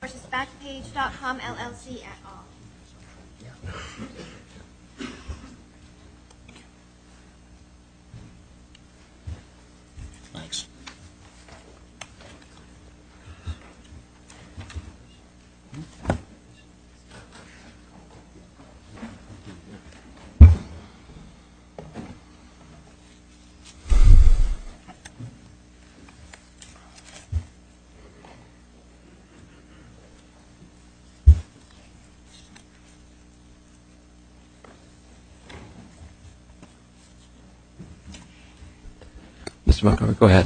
v. Backpage.com, LLC, et al. May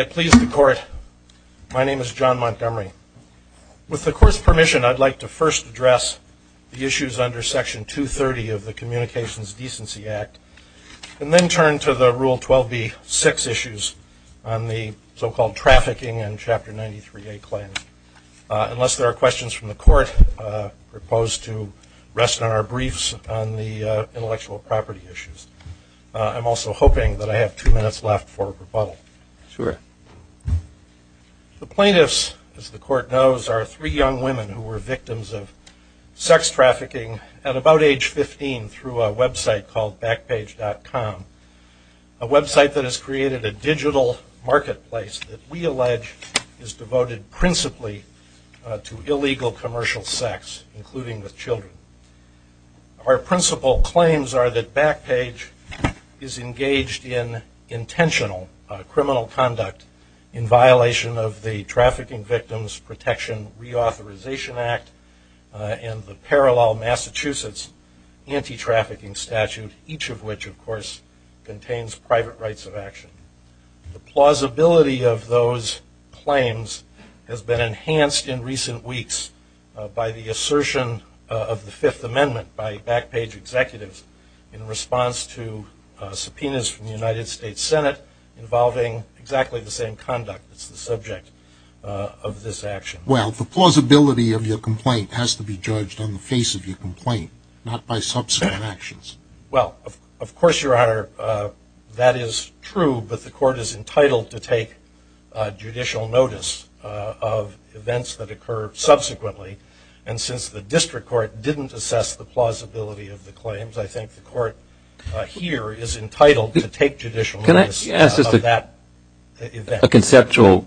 it please the Court, my name is John Montgomery. With the Court's permission, I'd like to first address the issues under Section 230 of the Communications Decency Act, and then turn to the Rule 12b-6 issues on the so-called trafficking and Chapter 93A claim. Unless there are questions from the Court, I propose to rest on our briefs on the intellectual property issues. I'm also hoping that I have two minutes left for rebuttal. Sure. The plaintiffs, as the Court knows, are three young women who were victims of sex trafficking at about age 15 through a website called Backpage.com, a website that has created a digital marketplace that we allege is devoted principally to illegal commercial sex, including with children. Our principal claims are that Backpage is engaged in intentional criminal conduct in violation of the Trafficking Victims Protection Reauthorization Act and the Parallel Massachusetts Anti-Trafficking Statute, each of which, of course, contains private rights of action. The plausibility of those claims has been enhanced in recent weeks by the assertion of the Fifth Amendment by Backpage executives in response to subpoenas from the United States Senate involving exactly the same conduct that's the subject of this action. Well, the plausibility of your complaint has to be judged on the face of your complaint, not by subsequent actions. Well, of course, Your Honor, that is true, but the Court is entitled to take judicial notice of events that occur subsequently. And since the District Court didn't assess the plausibility of the claims, I think the Court here is entitled to take judicial notice of that event. Can I ask a conceptual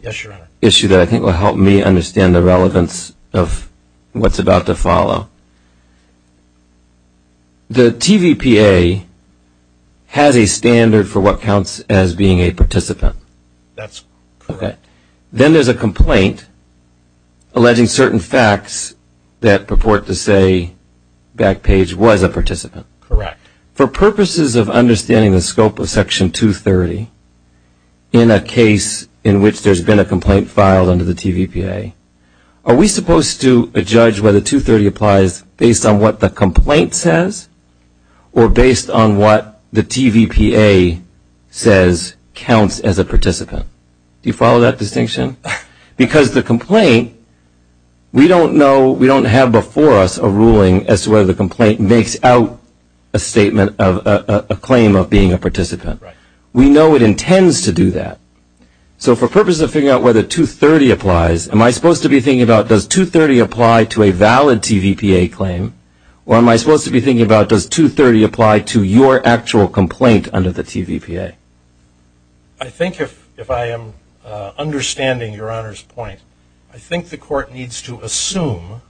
issue that I think will help me understand the relevance of what's about to follow? The TVPA has a standard for what counts as being a participant. That's correct. Then there's a complaint alleging certain facts that purport to say Backpage was a participant. Correct. For purposes of understanding the scope of Section 230, in a case in which there's been a complaint filed under the TVPA, are we supposed to judge whether 230 applies based on what the complaint says or based on what the TVPA says counts as a participant? Do you follow that distinction? Because the complaint, we don't have before us a ruling as to whether the complaint makes out a statement of a claim of being a participant. We know it intends to do that. So for purposes of figuring out whether 230 applies, am I supposed to be thinking about does 230 apply to a valid TVPA claim or am I supposed to be thinking about does 230 apply to your actual complaint under the TVPA? I think if I am understanding Your Honor's point, I think the Court needs to assume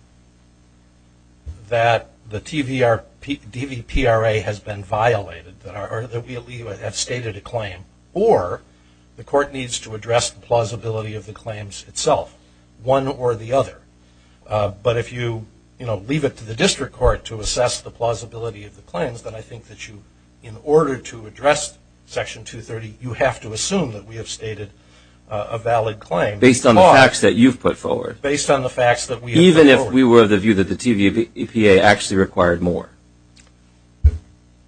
that the TVPRA has been violated, that we have stated a claim, or the Court needs to address the plausibility of the claims itself, one or the other. But if you leave it to the District Court to assess the plausibility of the claims, then I think that in order to address Section 230, you have to assume that we have stated a valid claim. Based on the facts that you've put forward. Based on the facts that we have put forward.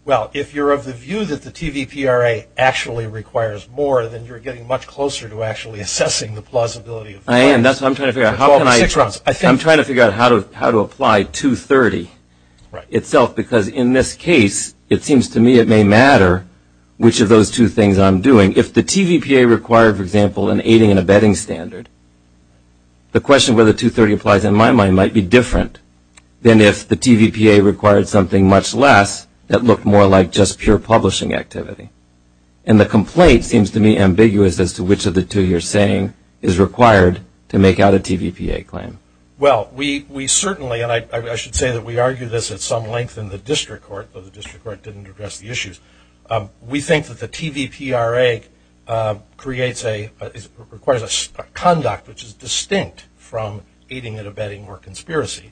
Well, if you're of the view that the TVPRA actually requires more, then you're getting much closer to actually assessing the plausibility of the claims. I am. That's what I'm trying to figure out. I'm trying to figure out how to apply 230 itself, because in this case, it seems to me it may matter which of those two things I'm doing. If the TVPA required, for example, an aiding and abetting standard, the question whether 230 applies in my mind might be different than if the TVPA required something much less that looked more like just pure publishing activity. And the complaint seems to me ambiguous as to which of the two you're saying is required to make out a TVPA claim. Well, we certainly, and I should say that we argue this at some length in the District We think that the TVPRA creates a, requires a conduct which is distinct from aiding and abetting or conspiracy.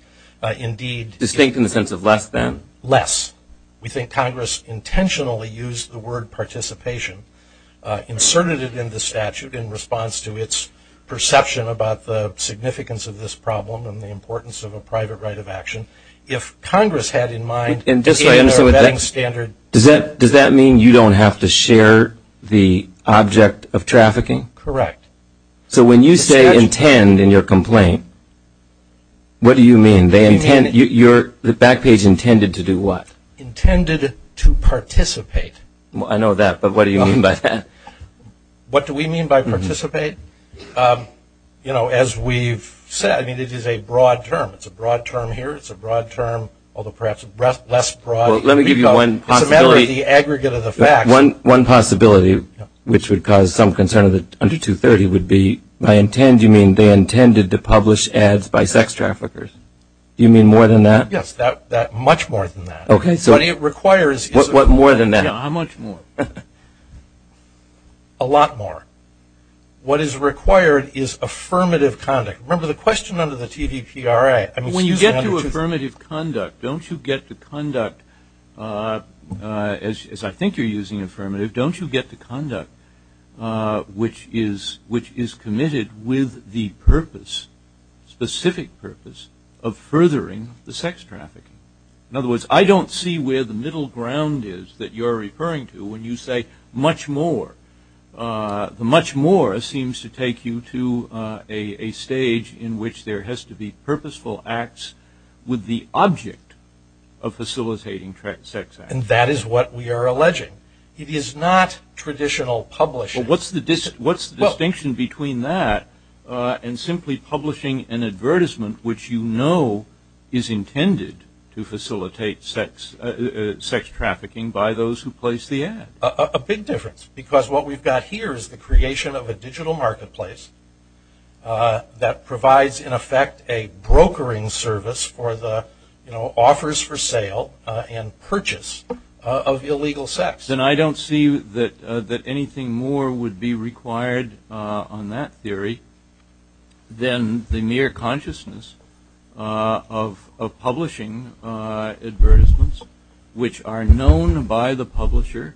Indeed. Distinct in the sense of less than? Less. We think Congress intentionally used the word participation, inserted it in the statute in response to its perception about the significance of this problem and the importance of a private right of action. If Congress had in mind aiding and abetting standard. Does that mean you don't have to share the object of trafficking? Correct. So when you say intend in your complaint, what do you mean? They intend, you're, the back page intended to do what? Intended to participate. I know that, but what do you mean by that? What do we mean by participate? You know, as we've said, I mean, it is a broad term. It's a broad term here. It's a broad term, although perhaps less broad. Let me give you one possibility. It's a matter of the aggregate of the facts. One possibility, which would cause some concern under 230 would be, by intend you mean they intended to publish ads by sex traffickers. You mean more than that? Yes. That, much more than that. Okay, so. But it requires. What more than that? Yeah, how much more? A lot more. What is required is affirmative conduct. Remember the question under the TVPRA. When you get to affirmative conduct, don't you get to conduct, as I think you're using affirmative, don't you get to conduct which is committed with the purpose, specific purpose, of furthering the sex trafficking? In other words, I don't see where the middle ground is that you're referring to when you say much more. The much more seems to take you to a stage in which there has to be purposeful acts with the object of facilitating sex acts. And that is what we are alleging. It is not traditional publishing. What's the distinction between that and simply publishing an advertisement which you know is intended to facilitate sex trafficking by those who place the ad? A big difference. Because what we've got here is the creation of a digital marketplace that provides in effect a brokering service for the offers for sale and purchase of illegal sex. And I don't see that anything more would be required on that theory than the mere consciousness of publishing advertisements which are known by the publisher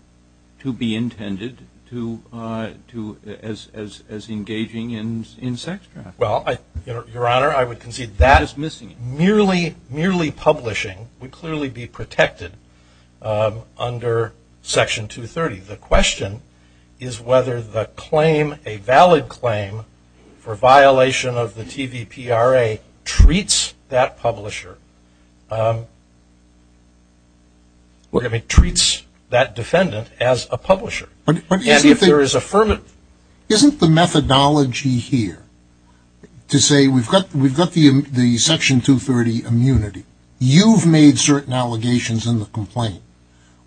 to be intended as engaging in sex trafficking. Well, Your Honor, I would concede that merely publishing would clearly be protected under Section 230. The question is whether the claim, a valid claim, for violation of the TVPRA treats that publisher, I mean treats that defendant as a publisher. And if there is a firm... Isn't the methodology here to say we've got the Section 230 immunity. You've made certain allegations in the complaint.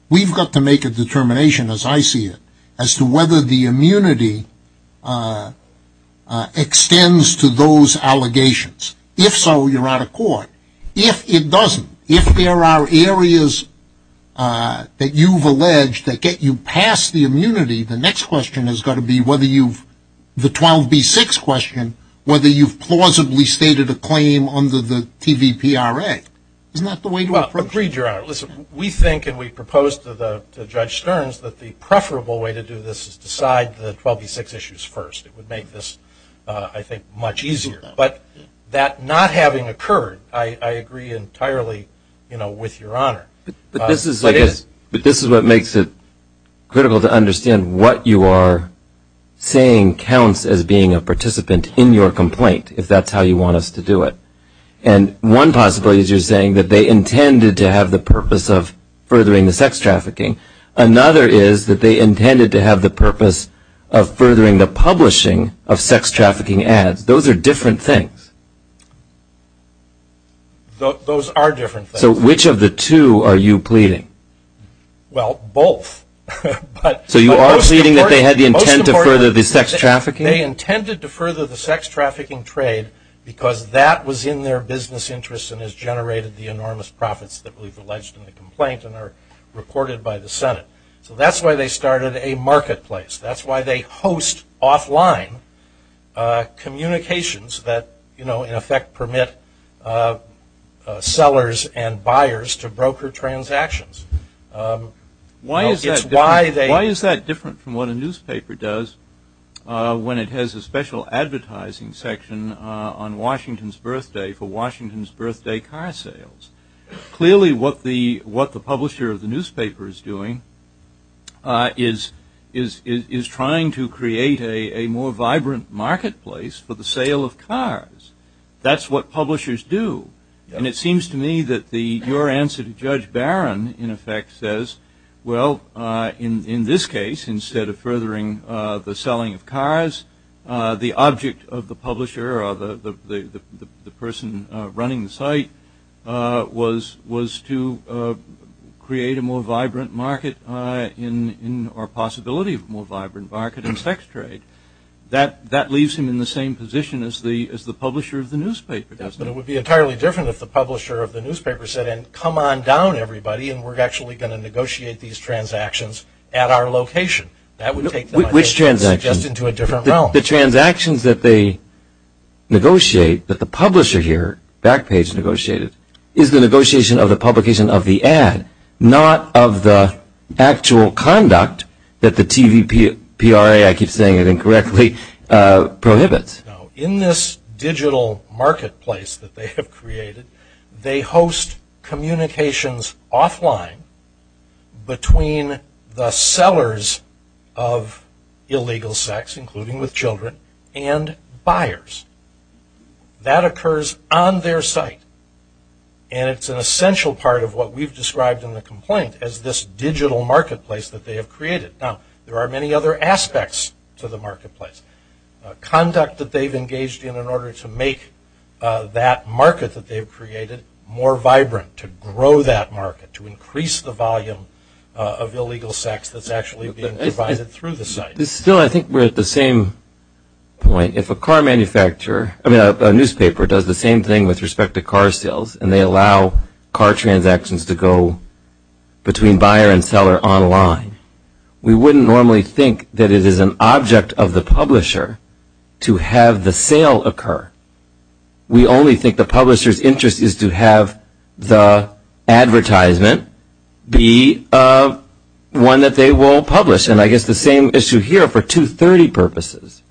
We've got to make a determination, as I see it, as to whether the immunity extends to those allegations. If so, you're out of court. If it doesn't, if there are areas that you've alleged that get you past the immunity, the next question has got to be whether you've... The 12B6 question, whether you've plausibly stated a claim under the TVPRA is not the way to approach it. You agreed, Your Honor. Listen, we think and we proposed to Judge Stearns that the preferable way to do this is decide the 12B6 issues first. It would make this, I think, much easier. But that not having occurred, I agree entirely with Your Honor. This is what makes it critical to understand what you are saying counts as being a participant in your complaint, if that's how you want us to do it. And one possibility is you're saying that they intended to have the purpose of furthering the sex trafficking. Another is that they intended to have the purpose of furthering the publishing of sex trafficking ads. Those are different things. Those are different things. So which of the two are you pleading? Well, both. So you are pleading that they had the intent to further the sex trafficking? They intended to further the sex trafficking trade because that was in their business interests and has generated the enormous profits that we've alleged in the complaint and are reported by the Senate. So that's why they started a marketplace. That's why they host offline communications that, in effect, permit sellers and buyers to broker transactions. Why is that different from what a newspaper does when it has a special advertising section on Washington's birthday for Washington's birthday car sales? Clearly what the publisher of the newspaper is doing is trying to create a more vibrant marketplace for the sale of cars. That's what publishers do. And it seems to me that your answer to Judge Barron, in effect, says, well, in this case, instead of furthering the selling of cars, the object of the publisher or the person running the site was to create a more vibrant market or possibility of a more vibrant market in sex trade. That leaves him in the same position as the publisher of the newspaper does. But it would be entirely different if the publisher of the newspaper said, come on down, everybody, and we're actually going to negotiate these transactions at our location. That would take them, I think, just into a different realm. The transactions that they negotiate, that the publisher here, Backpage, negotiated, is the negotiation of the publication of the ad, not of the actual conduct that the TVPRA, I keep saying it incorrectly, prohibits. In this digital marketplace that they have created, they host communications offline between the sellers of illegal sex, including with children, and buyers. That occurs on their site. And it's an essential part of what we've described in the complaint as this digital marketplace that they have created. Now, there are many other aspects to the marketplace. Conduct that they've engaged in in order to make that market that they've created more vibrant, to grow that market, to increase the volume of illegal sex that's actually being provided through the site. It's still, I think, we're at the same point. If a car manufacturer, I mean, a newspaper does the same thing with respect to car sales, and they allow car transactions to go between buyer and seller online, we wouldn't normally think that it is an object of the publisher to have the sale occur. We only think the publisher's interest is to have the advertisement be one that they will publish. And I guess the same issue here for 230 purposes.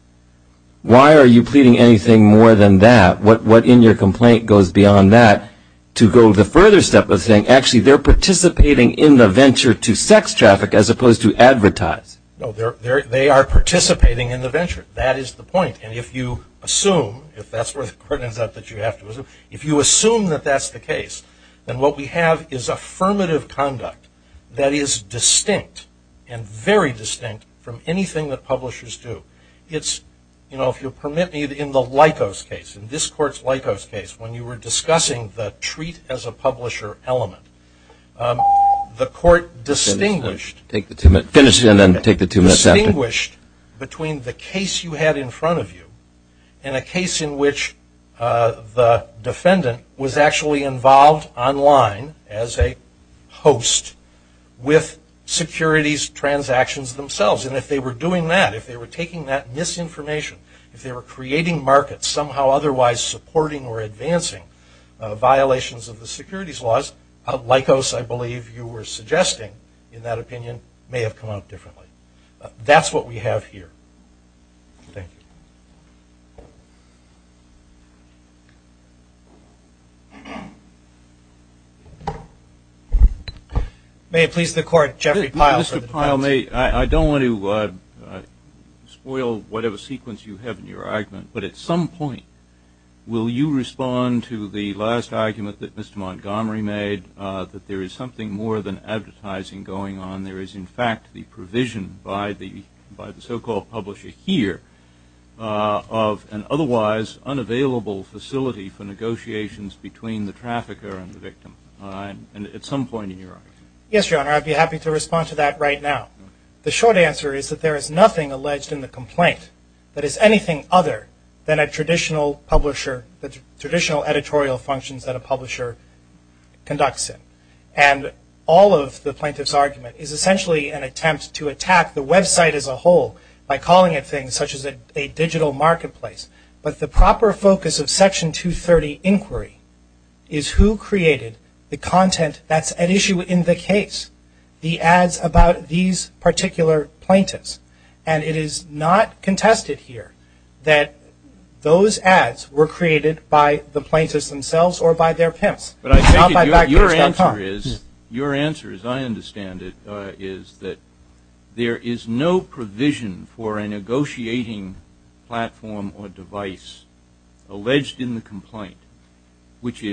Why are you pleading anything more than that? What in your complaint goes beyond that to go the further step of saying, actually, they're participating in the venture to sex traffic as opposed to advertise? No, they are participating in the venture. That is the point. And if you assume, if that's where the court ends up that you have to assume, if you assume that that's the case, then what we have is affirmative conduct that is distinct and very distinct from anything that publishers do. It's, you know, if you'll permit me, in the Likos case, in this court's Likos case, when you were discussing the treat as a publisher element, the court distinguished. Take the two minutes. Finish and then take the two minutes after. Distinguished between the case you had in front of you and a case in which the defendant was actually involved online as a host with securities transactions themselves. And if they were doing that, if they were taking that misinformation, if they were creating markets somehow otherwise supporting or advancing violations of the securities laws, at Likos I believe you were suggesting, in that opinion, may have come out differently. That's what we have here. Thank you. May it please the court, Jeffrey Pyle for the defense. Mr. Pyle, I don't want to spoil whatever sequence you have in your argument, but at some point, will you respond to the last argument that Mr. Montgomery made, that there is something more than advertising going on? There is, in fact, the provision by the so-called publisher here of an otherwise unavailable facility for negotiations between the trafficker and the victim, and at some point in your argument. Yes, Your Honor, I'd be happy to respond to that right now. The short answer is that there is nothing alleged in the complaint that is anything other than a traditional publisher, the traditional editorial functions that a publisher conducts in. And all of the plaintiff's argument is essentially an attempt to attack the website as a whole by calling it things such as a digital marketplace. But the proper focus of Section 230 inquiry is who created the content that's at issue in the case, the ads about these particular plaintiffs. And it is not contested here that those ads were created by the plaintiffs themselves or by their pimps. Your answer, as I understand it, is that there is no provision for a negotiating platform or device alleged in the complaint which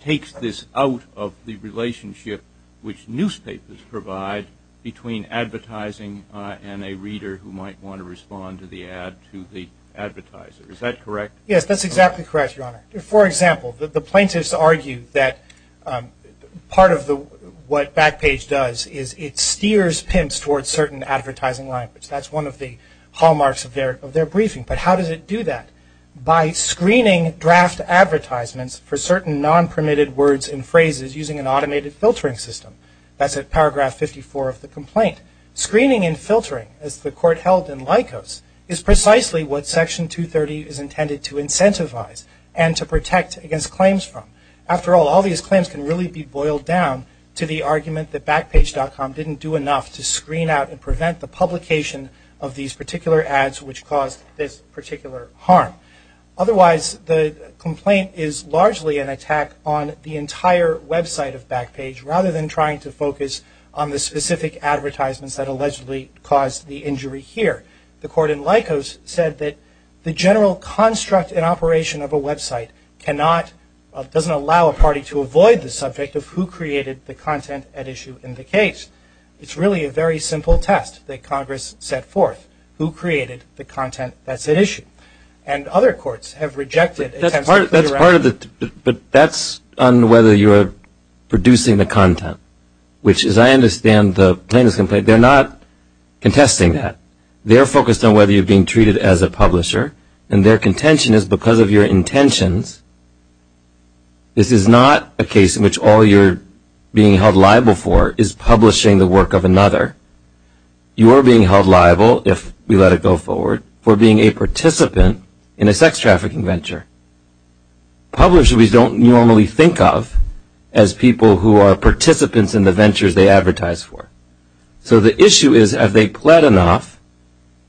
takes this out of the relationship which newspapers provide between advertising and a reader who might want to respond to the ad to the advertiser. Is that correct? Yes, that's exactly correct, Your Honor. For example, the plaintiffs argue that part of what Backpage does is it steers pimps towards certain advertising language. That's one of the hallmarks of their briefing. But how does it do that? By screening draft advertisements for certain non-permitted words and phrases using an automated filtering system. That's at paragraph 54 of the complaint. Screening and filtering, as the Court held in Likos, is precisely what Section 230 is intended to incentivize and to protect against claims from. After all, all these claims can really be boiled down to the argument that Backpage.com didn't do enough to screen out and prevent the publication of these particular ads which caused this particular harm. Otherwise, the complaint is largely an attack on the entire website of Backpage rather than trying to focus on the specific advertisements that allegedly caused the injury here. The Court in Likos said that the general construct and operation of a website cannot, doesn't allow a party to avoid the subject of who created the content at issue in the case. It's really a very simple test that Congress set forth. Who created the content that's at issue? And other courts have rejected attempts to clear out. But that's on whether you are producing the content. Which, as I understand the plaintiff's complaint, they're not contesting that. They're focused on whether you're being treated as a publisher. And their contention is because of your intentions, this is not a case in which all you're being held liable for is publishing the work of another. You are being held liable, if we let it go forward, for being a participant in a sex trafficking venture. Publishers we don't normally think of as people who are participants in the ventures they advertise for. So the issue is, have they pled enough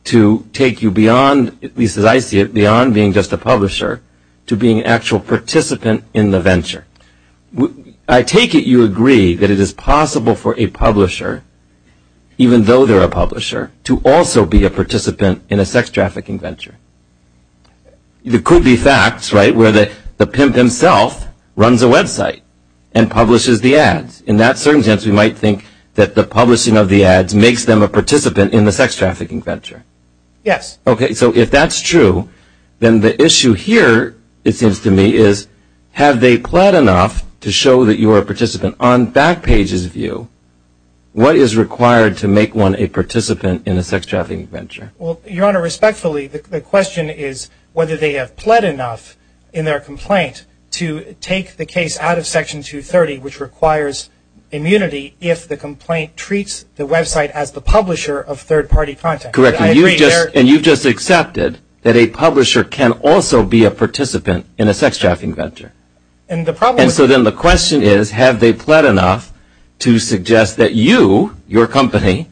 to take you beyond, at least as I see it, beyond being just a publisher to being an actual participant in the venture? I take it you agree that it is possible for a publisher, even though they're a publisher, to also be a participant in a sex trafficking venture. There could be facts, right, where the pimp himself runs a website and publishes the ads. In that certain sense, we might think that the publishing of the ads makes them a participant in the sex trafficking venture. Yes. Okay, so if that's true, then the issue here, it seems to me, is have they pled enough to show that you are a participant? On Backpage's view, what is required to make one a participant in a sex trafficking venture? Well, Your Honor, respectfully, the question is whether they have pled enough in their complaint to take the case out of Section 230, which requires immunity if the complaint treats the website as the publisher of third-party content. Correct. And you've just accepted that a publisher can also be a participant in a sex trafficking venture. And so then the question is, have they pled enough to suggest that you, your company,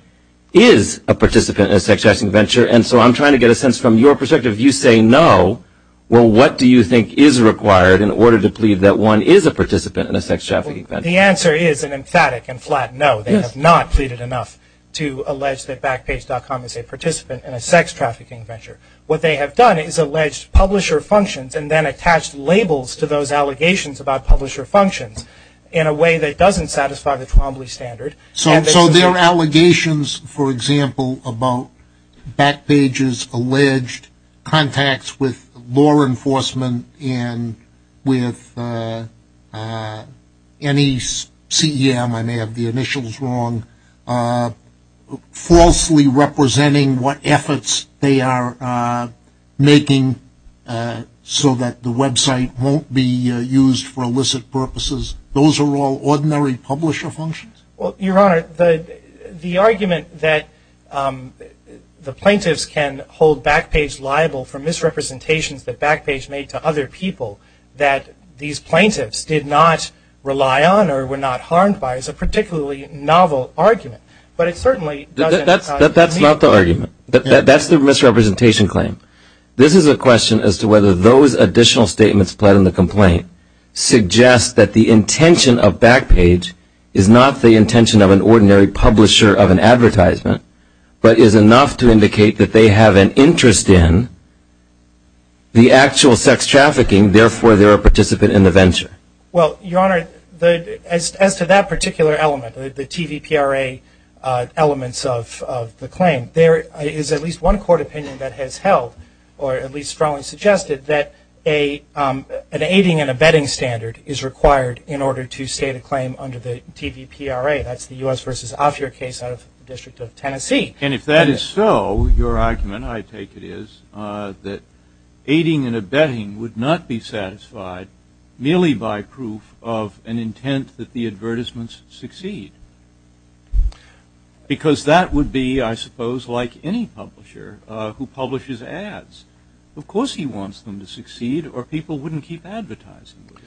is a participant in a sex trafficking venture? And so I'm trying to get a sense from your perspective. You say no. Well, what do you think is required in order to plead that one is a participant in a sex trafficking venture? The answer is an emphatic and flat no. They have not pleaded enough to allege that Backpage.com is a participant in a sex trafficking venture. What they have done is alleged publisher functions and then attached labels to those allegations about publisher functions in a way that doesn't satisfy the Trombley Standard. So there are allegations, for example, about Backpage's alleged contacts with law enforcement and with any CEM, I may have the initials wrong, falsely representing what efforts they are making so that the website won't be used for illicit purposes. Those are all ordinary publisher functions? Well, Your Honor, the argument that the plaintiffs can hold Backpage liable for misrepresentations that Backpage made to other people that these plaintiffs did not rely on or were not harmed by is a particularly novel argument. But it certainly doesn't... That's not the argument. That's the misrepresentation claim. This is a question as to whether those additional statements pled in the complaint suggest that the intention of Backpage is not the intention of an ordinary publisher of an advertisement but is enough to indicate that they have an interest in the actual sex trafficking, therefore they're a participant in the venture. Well, Your Honor, as to that particular element, the TVPRA elements of the claim, there is at least one court opinion that has held or at least strongly suggested that an aiding and abetting standard is required in order to state a claim under the TVPRA. That's the U.S. v. Offyer case out of the District of Tennessee. And if that is so, your argument, I take it, is that aiding and abetting would not be satisfied merely by proof of an intent that the advertisements succeed. Because that would be, I suppose, like any publisher who publishes ads. Of course he wants them to succeed, or people wouldn't keep advertising them.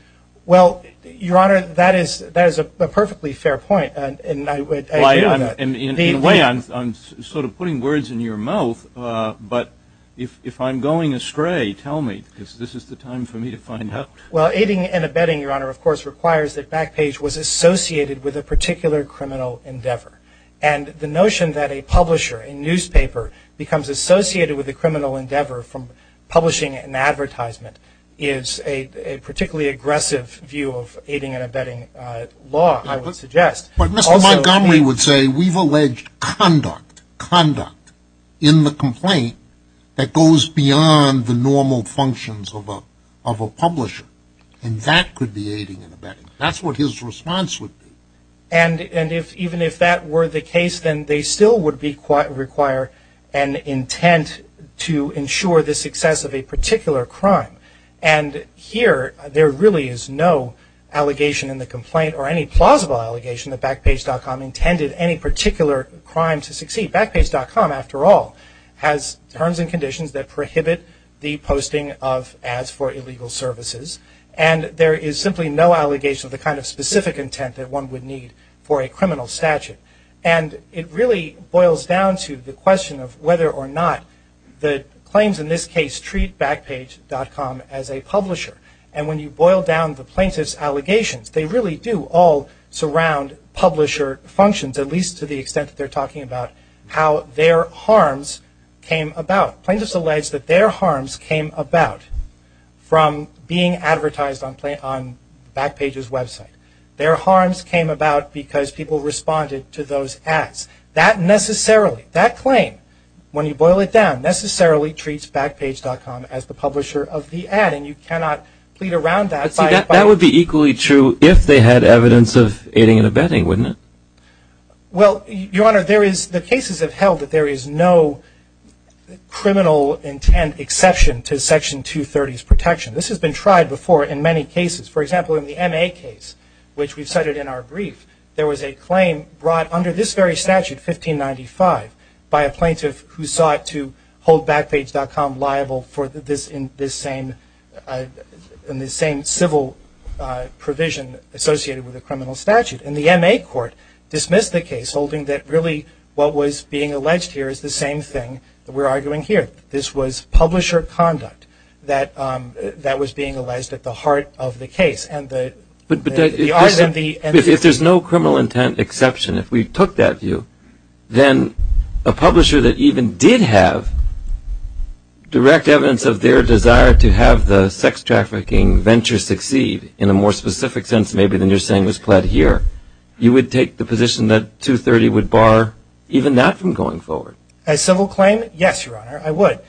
Well, Your Honor, that is a perfectly fair point, and I agree with that. In a way, I'm sort of putting words in your mouth, but if I'm going astray, tell me, because this is the time for me to find out. Well, aiding and abetting, Your Honor, of course, requires that Backpage was associated with a particular criminal endeavor. And the notion that a publisher, a newspaper, becomes associated with a criminal endeavor from publishing an advertisement is a particularly aggressive view of aiding and abetting law, I would suggest. But Mr. Montgomery would say we've alleged conduct, conduct, in the complaint that goes beyond the normal functions of a publisher, and that could be aiding and abetting. That's what his response would be. And even if that were the case, then they still would require an intent to ensure the success of a particular crime. And here, there really is no allegation in the complaint, or any plausible allegation, that Backpage.com intended any particular crime to succeed. Backpage.com, after all, has terms and conditions that prohibit the posting of ads for illegal services. And there is simply no allegation of the kind of specific intent that one would need for a criminal statute. And it really boils down to the question of whether or not the claims in this case treat Backpage.com as a publisher. And when you boil down the plaintiff's allegations, they really do all surround publisher functions, at least to the extent that they're talking about how their harms came about. Plaintiff's allege that their harms came about from being advertised on Backpage's website. Their harms came about because people responded to those ads. That necessarily, that claim, when you boil it down, necessarily treats Backpage.com as the publisher of the ad, and you cannot plead around that. But see, that would be equally true if they had evidence of aiding and abetting, wouldn't it? Well, Your Honor, the cases have held that there is no criminal intent exception to Section 230's protection. This has been tried before in many cases. For example, in the M.A. case, which we cited in our brief, there was a claim brought under this very statute, 1595, by a plaintiff who sought to hold Backpage.com liable for this same civil provision associated with a criminal statute. And the M.A. court dismissed the case, holding that really what was being alleged here is the same thing that we're arguing here. This was publisher conduct that was being alleged at the heart of the case. But if there's no criminal intent exception, if we took that view, then a publisher that even did have direct evidence of their desire to have the sex trafficking venture succeed, in a more specific sense maybe than you're saying was pled here, you would take the position that 230 would bar even that from going forward. A civil claim? Yes, Your Honor, I would.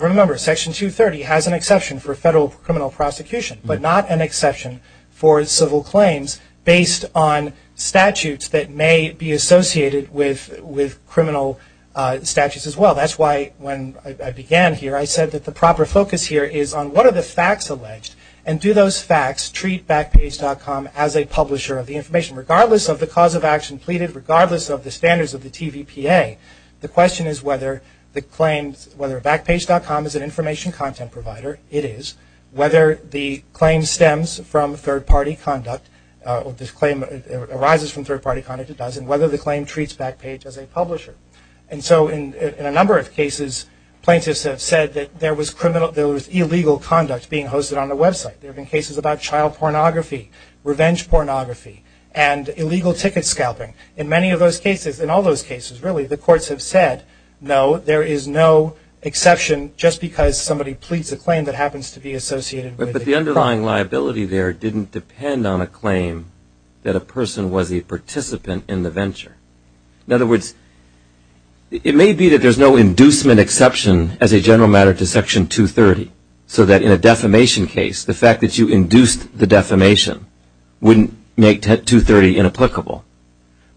Remember, Section 230 has an exception for federal criminal prosecution, but not an exception for civil claims based on statutes that may be associated with criminal statutes as well. That's why when I began here, I said that the proper focus here is on what are the facts alleged, and do those facts treat Backpage.com as a publisher of the information? Regardless of the cause of action pleaded, regardless of the standards of the TVPA, the question is whether Backpage.com is an information content provider. It is. Whether the claim stems from third-party conduct or arises from third-party conduct. It does. And whether the claim treats Backpage as a publisher. And so in a number of cases, plaintiffs have said that there was illegal conduct being hosted on the website. There have been cases about child pornography, revenge pornography, and illegal ticket scalping. In many of those cases, in all those cases really, the courts have said no, there is no exception just because somebody pleads a claim that happens to be associated with a crime. But the underlying liability there didn't depend on a claim that a person was a participant in the venture. In other words, it may be that there's no inducement exception as a general matter to Section 230, so that in a defamation case, the fact that you induced the defamation wouldn't make 230 inapplicable.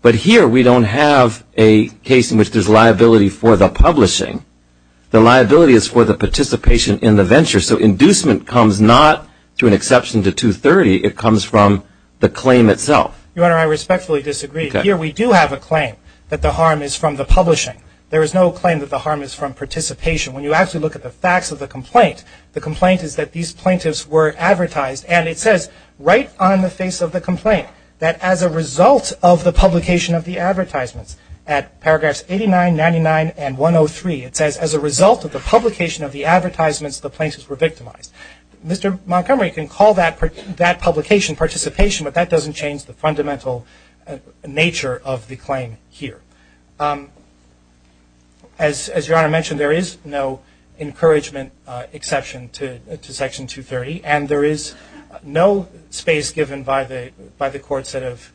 But here we don't have a case in which there's liability for the publishing. The liability is for the participation in the venture, so inducement comes not through an exception to 230, it comes from the claim itself. Your Honor, I respectfully disagree. Here we do have a claim that the harm is from the publishing. There is no claim that the harm is from participation. When you actually look at the facts of the complaint, the complaint is that these plaintiffs were advertised, and it says right on the face of the complaint that as a result of the publication of the advertisements, at paragraphs 89, 99, and 103, it says as a result of the publication of the advertisements, the plaintiffs were victimized. Mr. Montgomery can call that publication participation, but that doesn't change the fundamental nature of the claim here. As Your Honor mentioned, there is no encouragement exception to Section 230, and there is no space given by the courts that have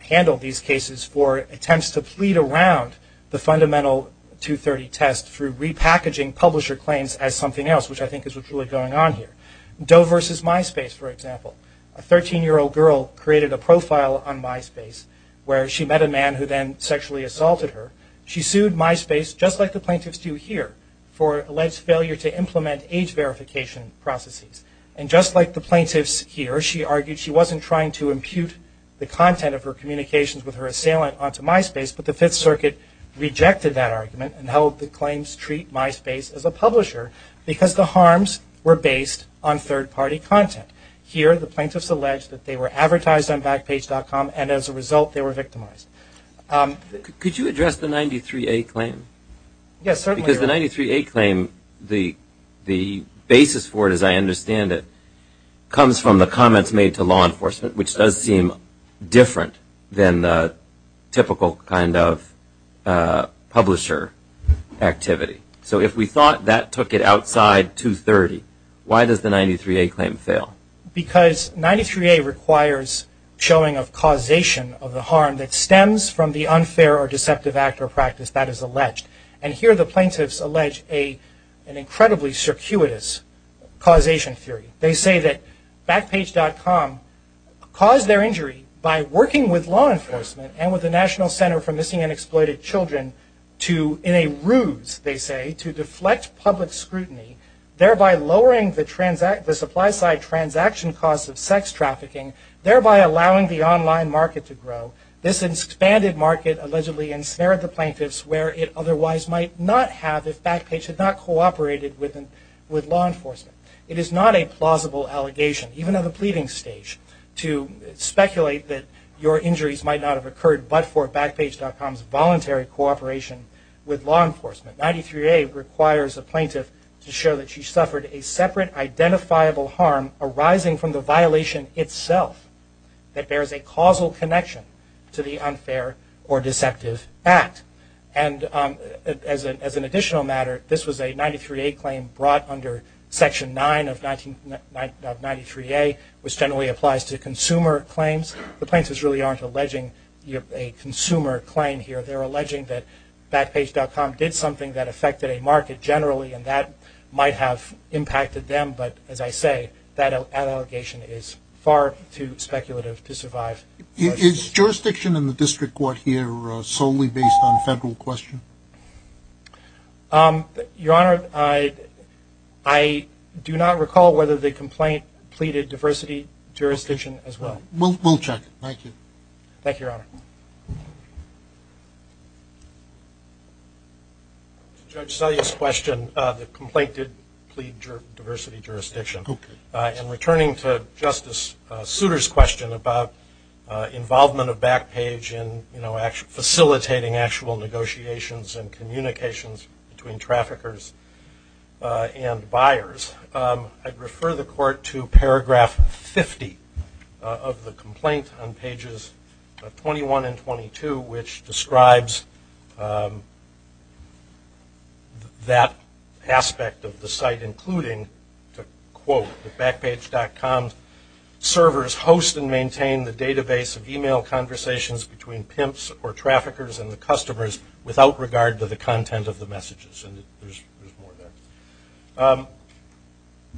handled these cases for attempts to plead around the fundamental 230 test through repackaging publisher claims as something else, which I think is what's really going on here. Doe versus MySpace, for example. A 13-year-old girl created a profile on MySpace where she met a man who then sexually assaulted her. She sued MySpace, just like the plaintiffs do here, for alleged failure to implement age verification processes. And just like the plaintiffs here, she argued she wasn't trying to impute the content of her communications with her assailant onto MySpace, but the Fifth Circuit rejected that argument and held the claims treat MySpace as a publisher because the harms were based on third-party content. Here, the plaintiffs allege that they were advertised on Backpage.com, and as a result, they were victimized. Could you address the 93A claim? Yes, certainly. Because the 93A claim, the basis for it as I understand it, comes from the comments made to law enforcement, which does seem different than the typical kind of publisher activity. So if we thought that took it outside 230, why does the 93A claim fail? Because 93A requires showing of causation of the harm that stems from the unfair or deceptive act or practice that is alleged. And here, the plaintiffs allege an incredibly circuitous causation theory. They say that Backpage.com caused their injury by working with law enforcement and with the National Center for Missing and Exploited Children in a ruse, they say, to deflect public scrutiny, thereby lowering the supply-side transaction costs of sex trafficking, thereby allowing the online market to grow. This expanded market allegedly ensnared the plaintiffs where it otherwise might not have if Backpage had not cooperated with law enforcement. It is not a plausible allegation, even at the pleading stage, to speculate that your injuries might not have occurred but for Backpage.com's voluntary cooperation with law enforcement. 93A requires a plaintiff to show that she suffered a separate identifiable harm arising from the violation itself that bears a causal connection to the unfair or deceptive act. And as an additional matter, this was a 93A claim brought under Section 9 of 93A, which generally applies to consumer claims. The plaintiffs really aren't alleging a consumer claim here. They're alleging that Backpage.com did something that affected a market generally and that might have impacted them, but as I say, that allegation is far too speculative to survive. Is jurisdiction in the district court here solely based on federal question? Your Honor, I do not recall whether the complaint pleaded diversity jurisdiction as well. We'll check. Thank you. Thank you, Your Honor. To Judge Selye's question, the complaint did plead diversity jurisdiction. And returning to Justice Souter's question about involvement of Backpage in facilitating actual negotiations and communications between traffickers and buyers, I'd refer the Court to paragraph 50 of the complaint on pages 21 and 22, which describes that aspect of the site, including, to quote, that Backpage.com's servers host and maintain the database of e-mail conversations between pimps or traffickers and the customers without regard to the content of the messages. And there's more there.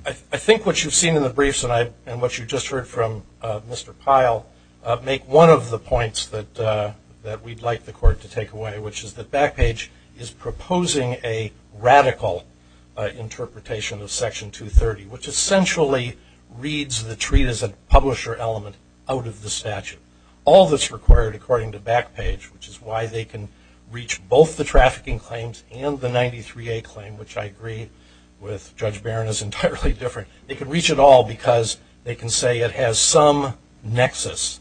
I think what you've seen in the briefs and what you just heard from Mr. Pyle make one of the points that we'd like the Court to take away, which is that Backpage is proposing a radical interpretation of Section 230, which essentially reads the treat as a publisher element out of the statute. All that's required, according to Backpage, which is why they can reach both the trafficking claims and the 93A claim, which I agree with Judge Barron is entirely different. They can reach it all because they can say it has some nexus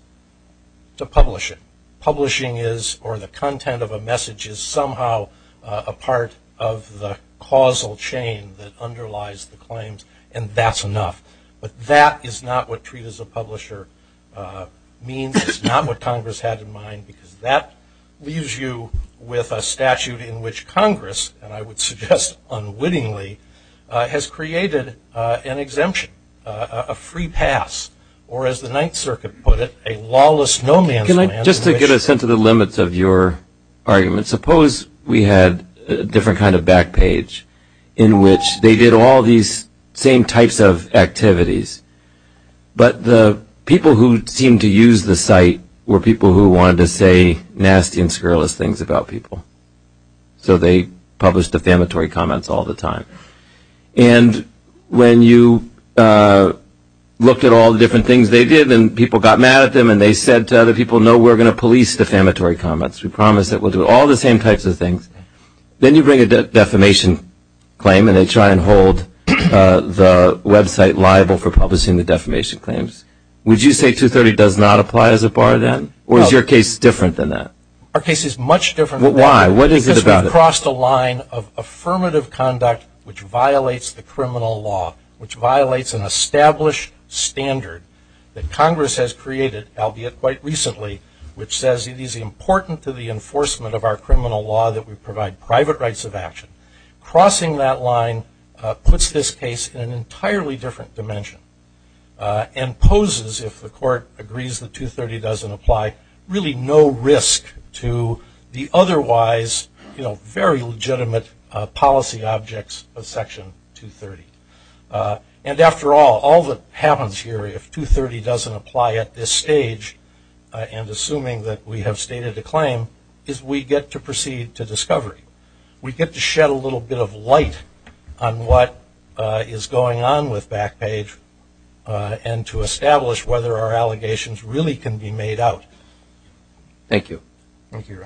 to publishing. Publishing is, or the content of a message is, somehow a part of the causal chain that underlies the claims, and that's enough. But that is not what treat as a publisher means. It's not what Congress had in mind because that leaves you with a statute in which Congress, and I would suggest unwittingly, has created an exemption, a free pass, or as the Ninth Circuit put it, a lawless no man's land. Just to get a sense of the limits of your argument, suppose we had a different kind of Backpage in which they did all these same types of activities, but the people who seemed to use the site were people who wanted to say nasty and scurrilous things about people. So they published defamatory comments all the time. And when you looked at all the different things they did and people got mad at them and they said to other people, no, we're going to police defamatory comments. We promise that we'll do all the same types of things. Then you bring a defamation claim and they try and hold the website liable for publishing the defamation claims. Would you say 230 does not apply as a bar then? Or is your case different than that? Our case is much different. Why? What is it about it? Because we've crossed a line of affirmative conduct which violates the criminal law, which violates an established standard that Congress has created, albeit quite recently, which says it is important to the enforcement of our criminal law that we provide private rights of action. Crossing that line puts this case in an entirely different dimension and poses, if the court agrees that 230 doesn't apply, really no risk to the otherwise very legitimate policy objects of Section 230. And after all, all that happens here if 230 doesn't apply at this stage and assuming that we have stated a claim is we get to proceed to discovery. We get to shed a little bit of light on what is going on with Backpage and to establish whether our allegations really can be made out. Thank you. Thank you, Your Honor.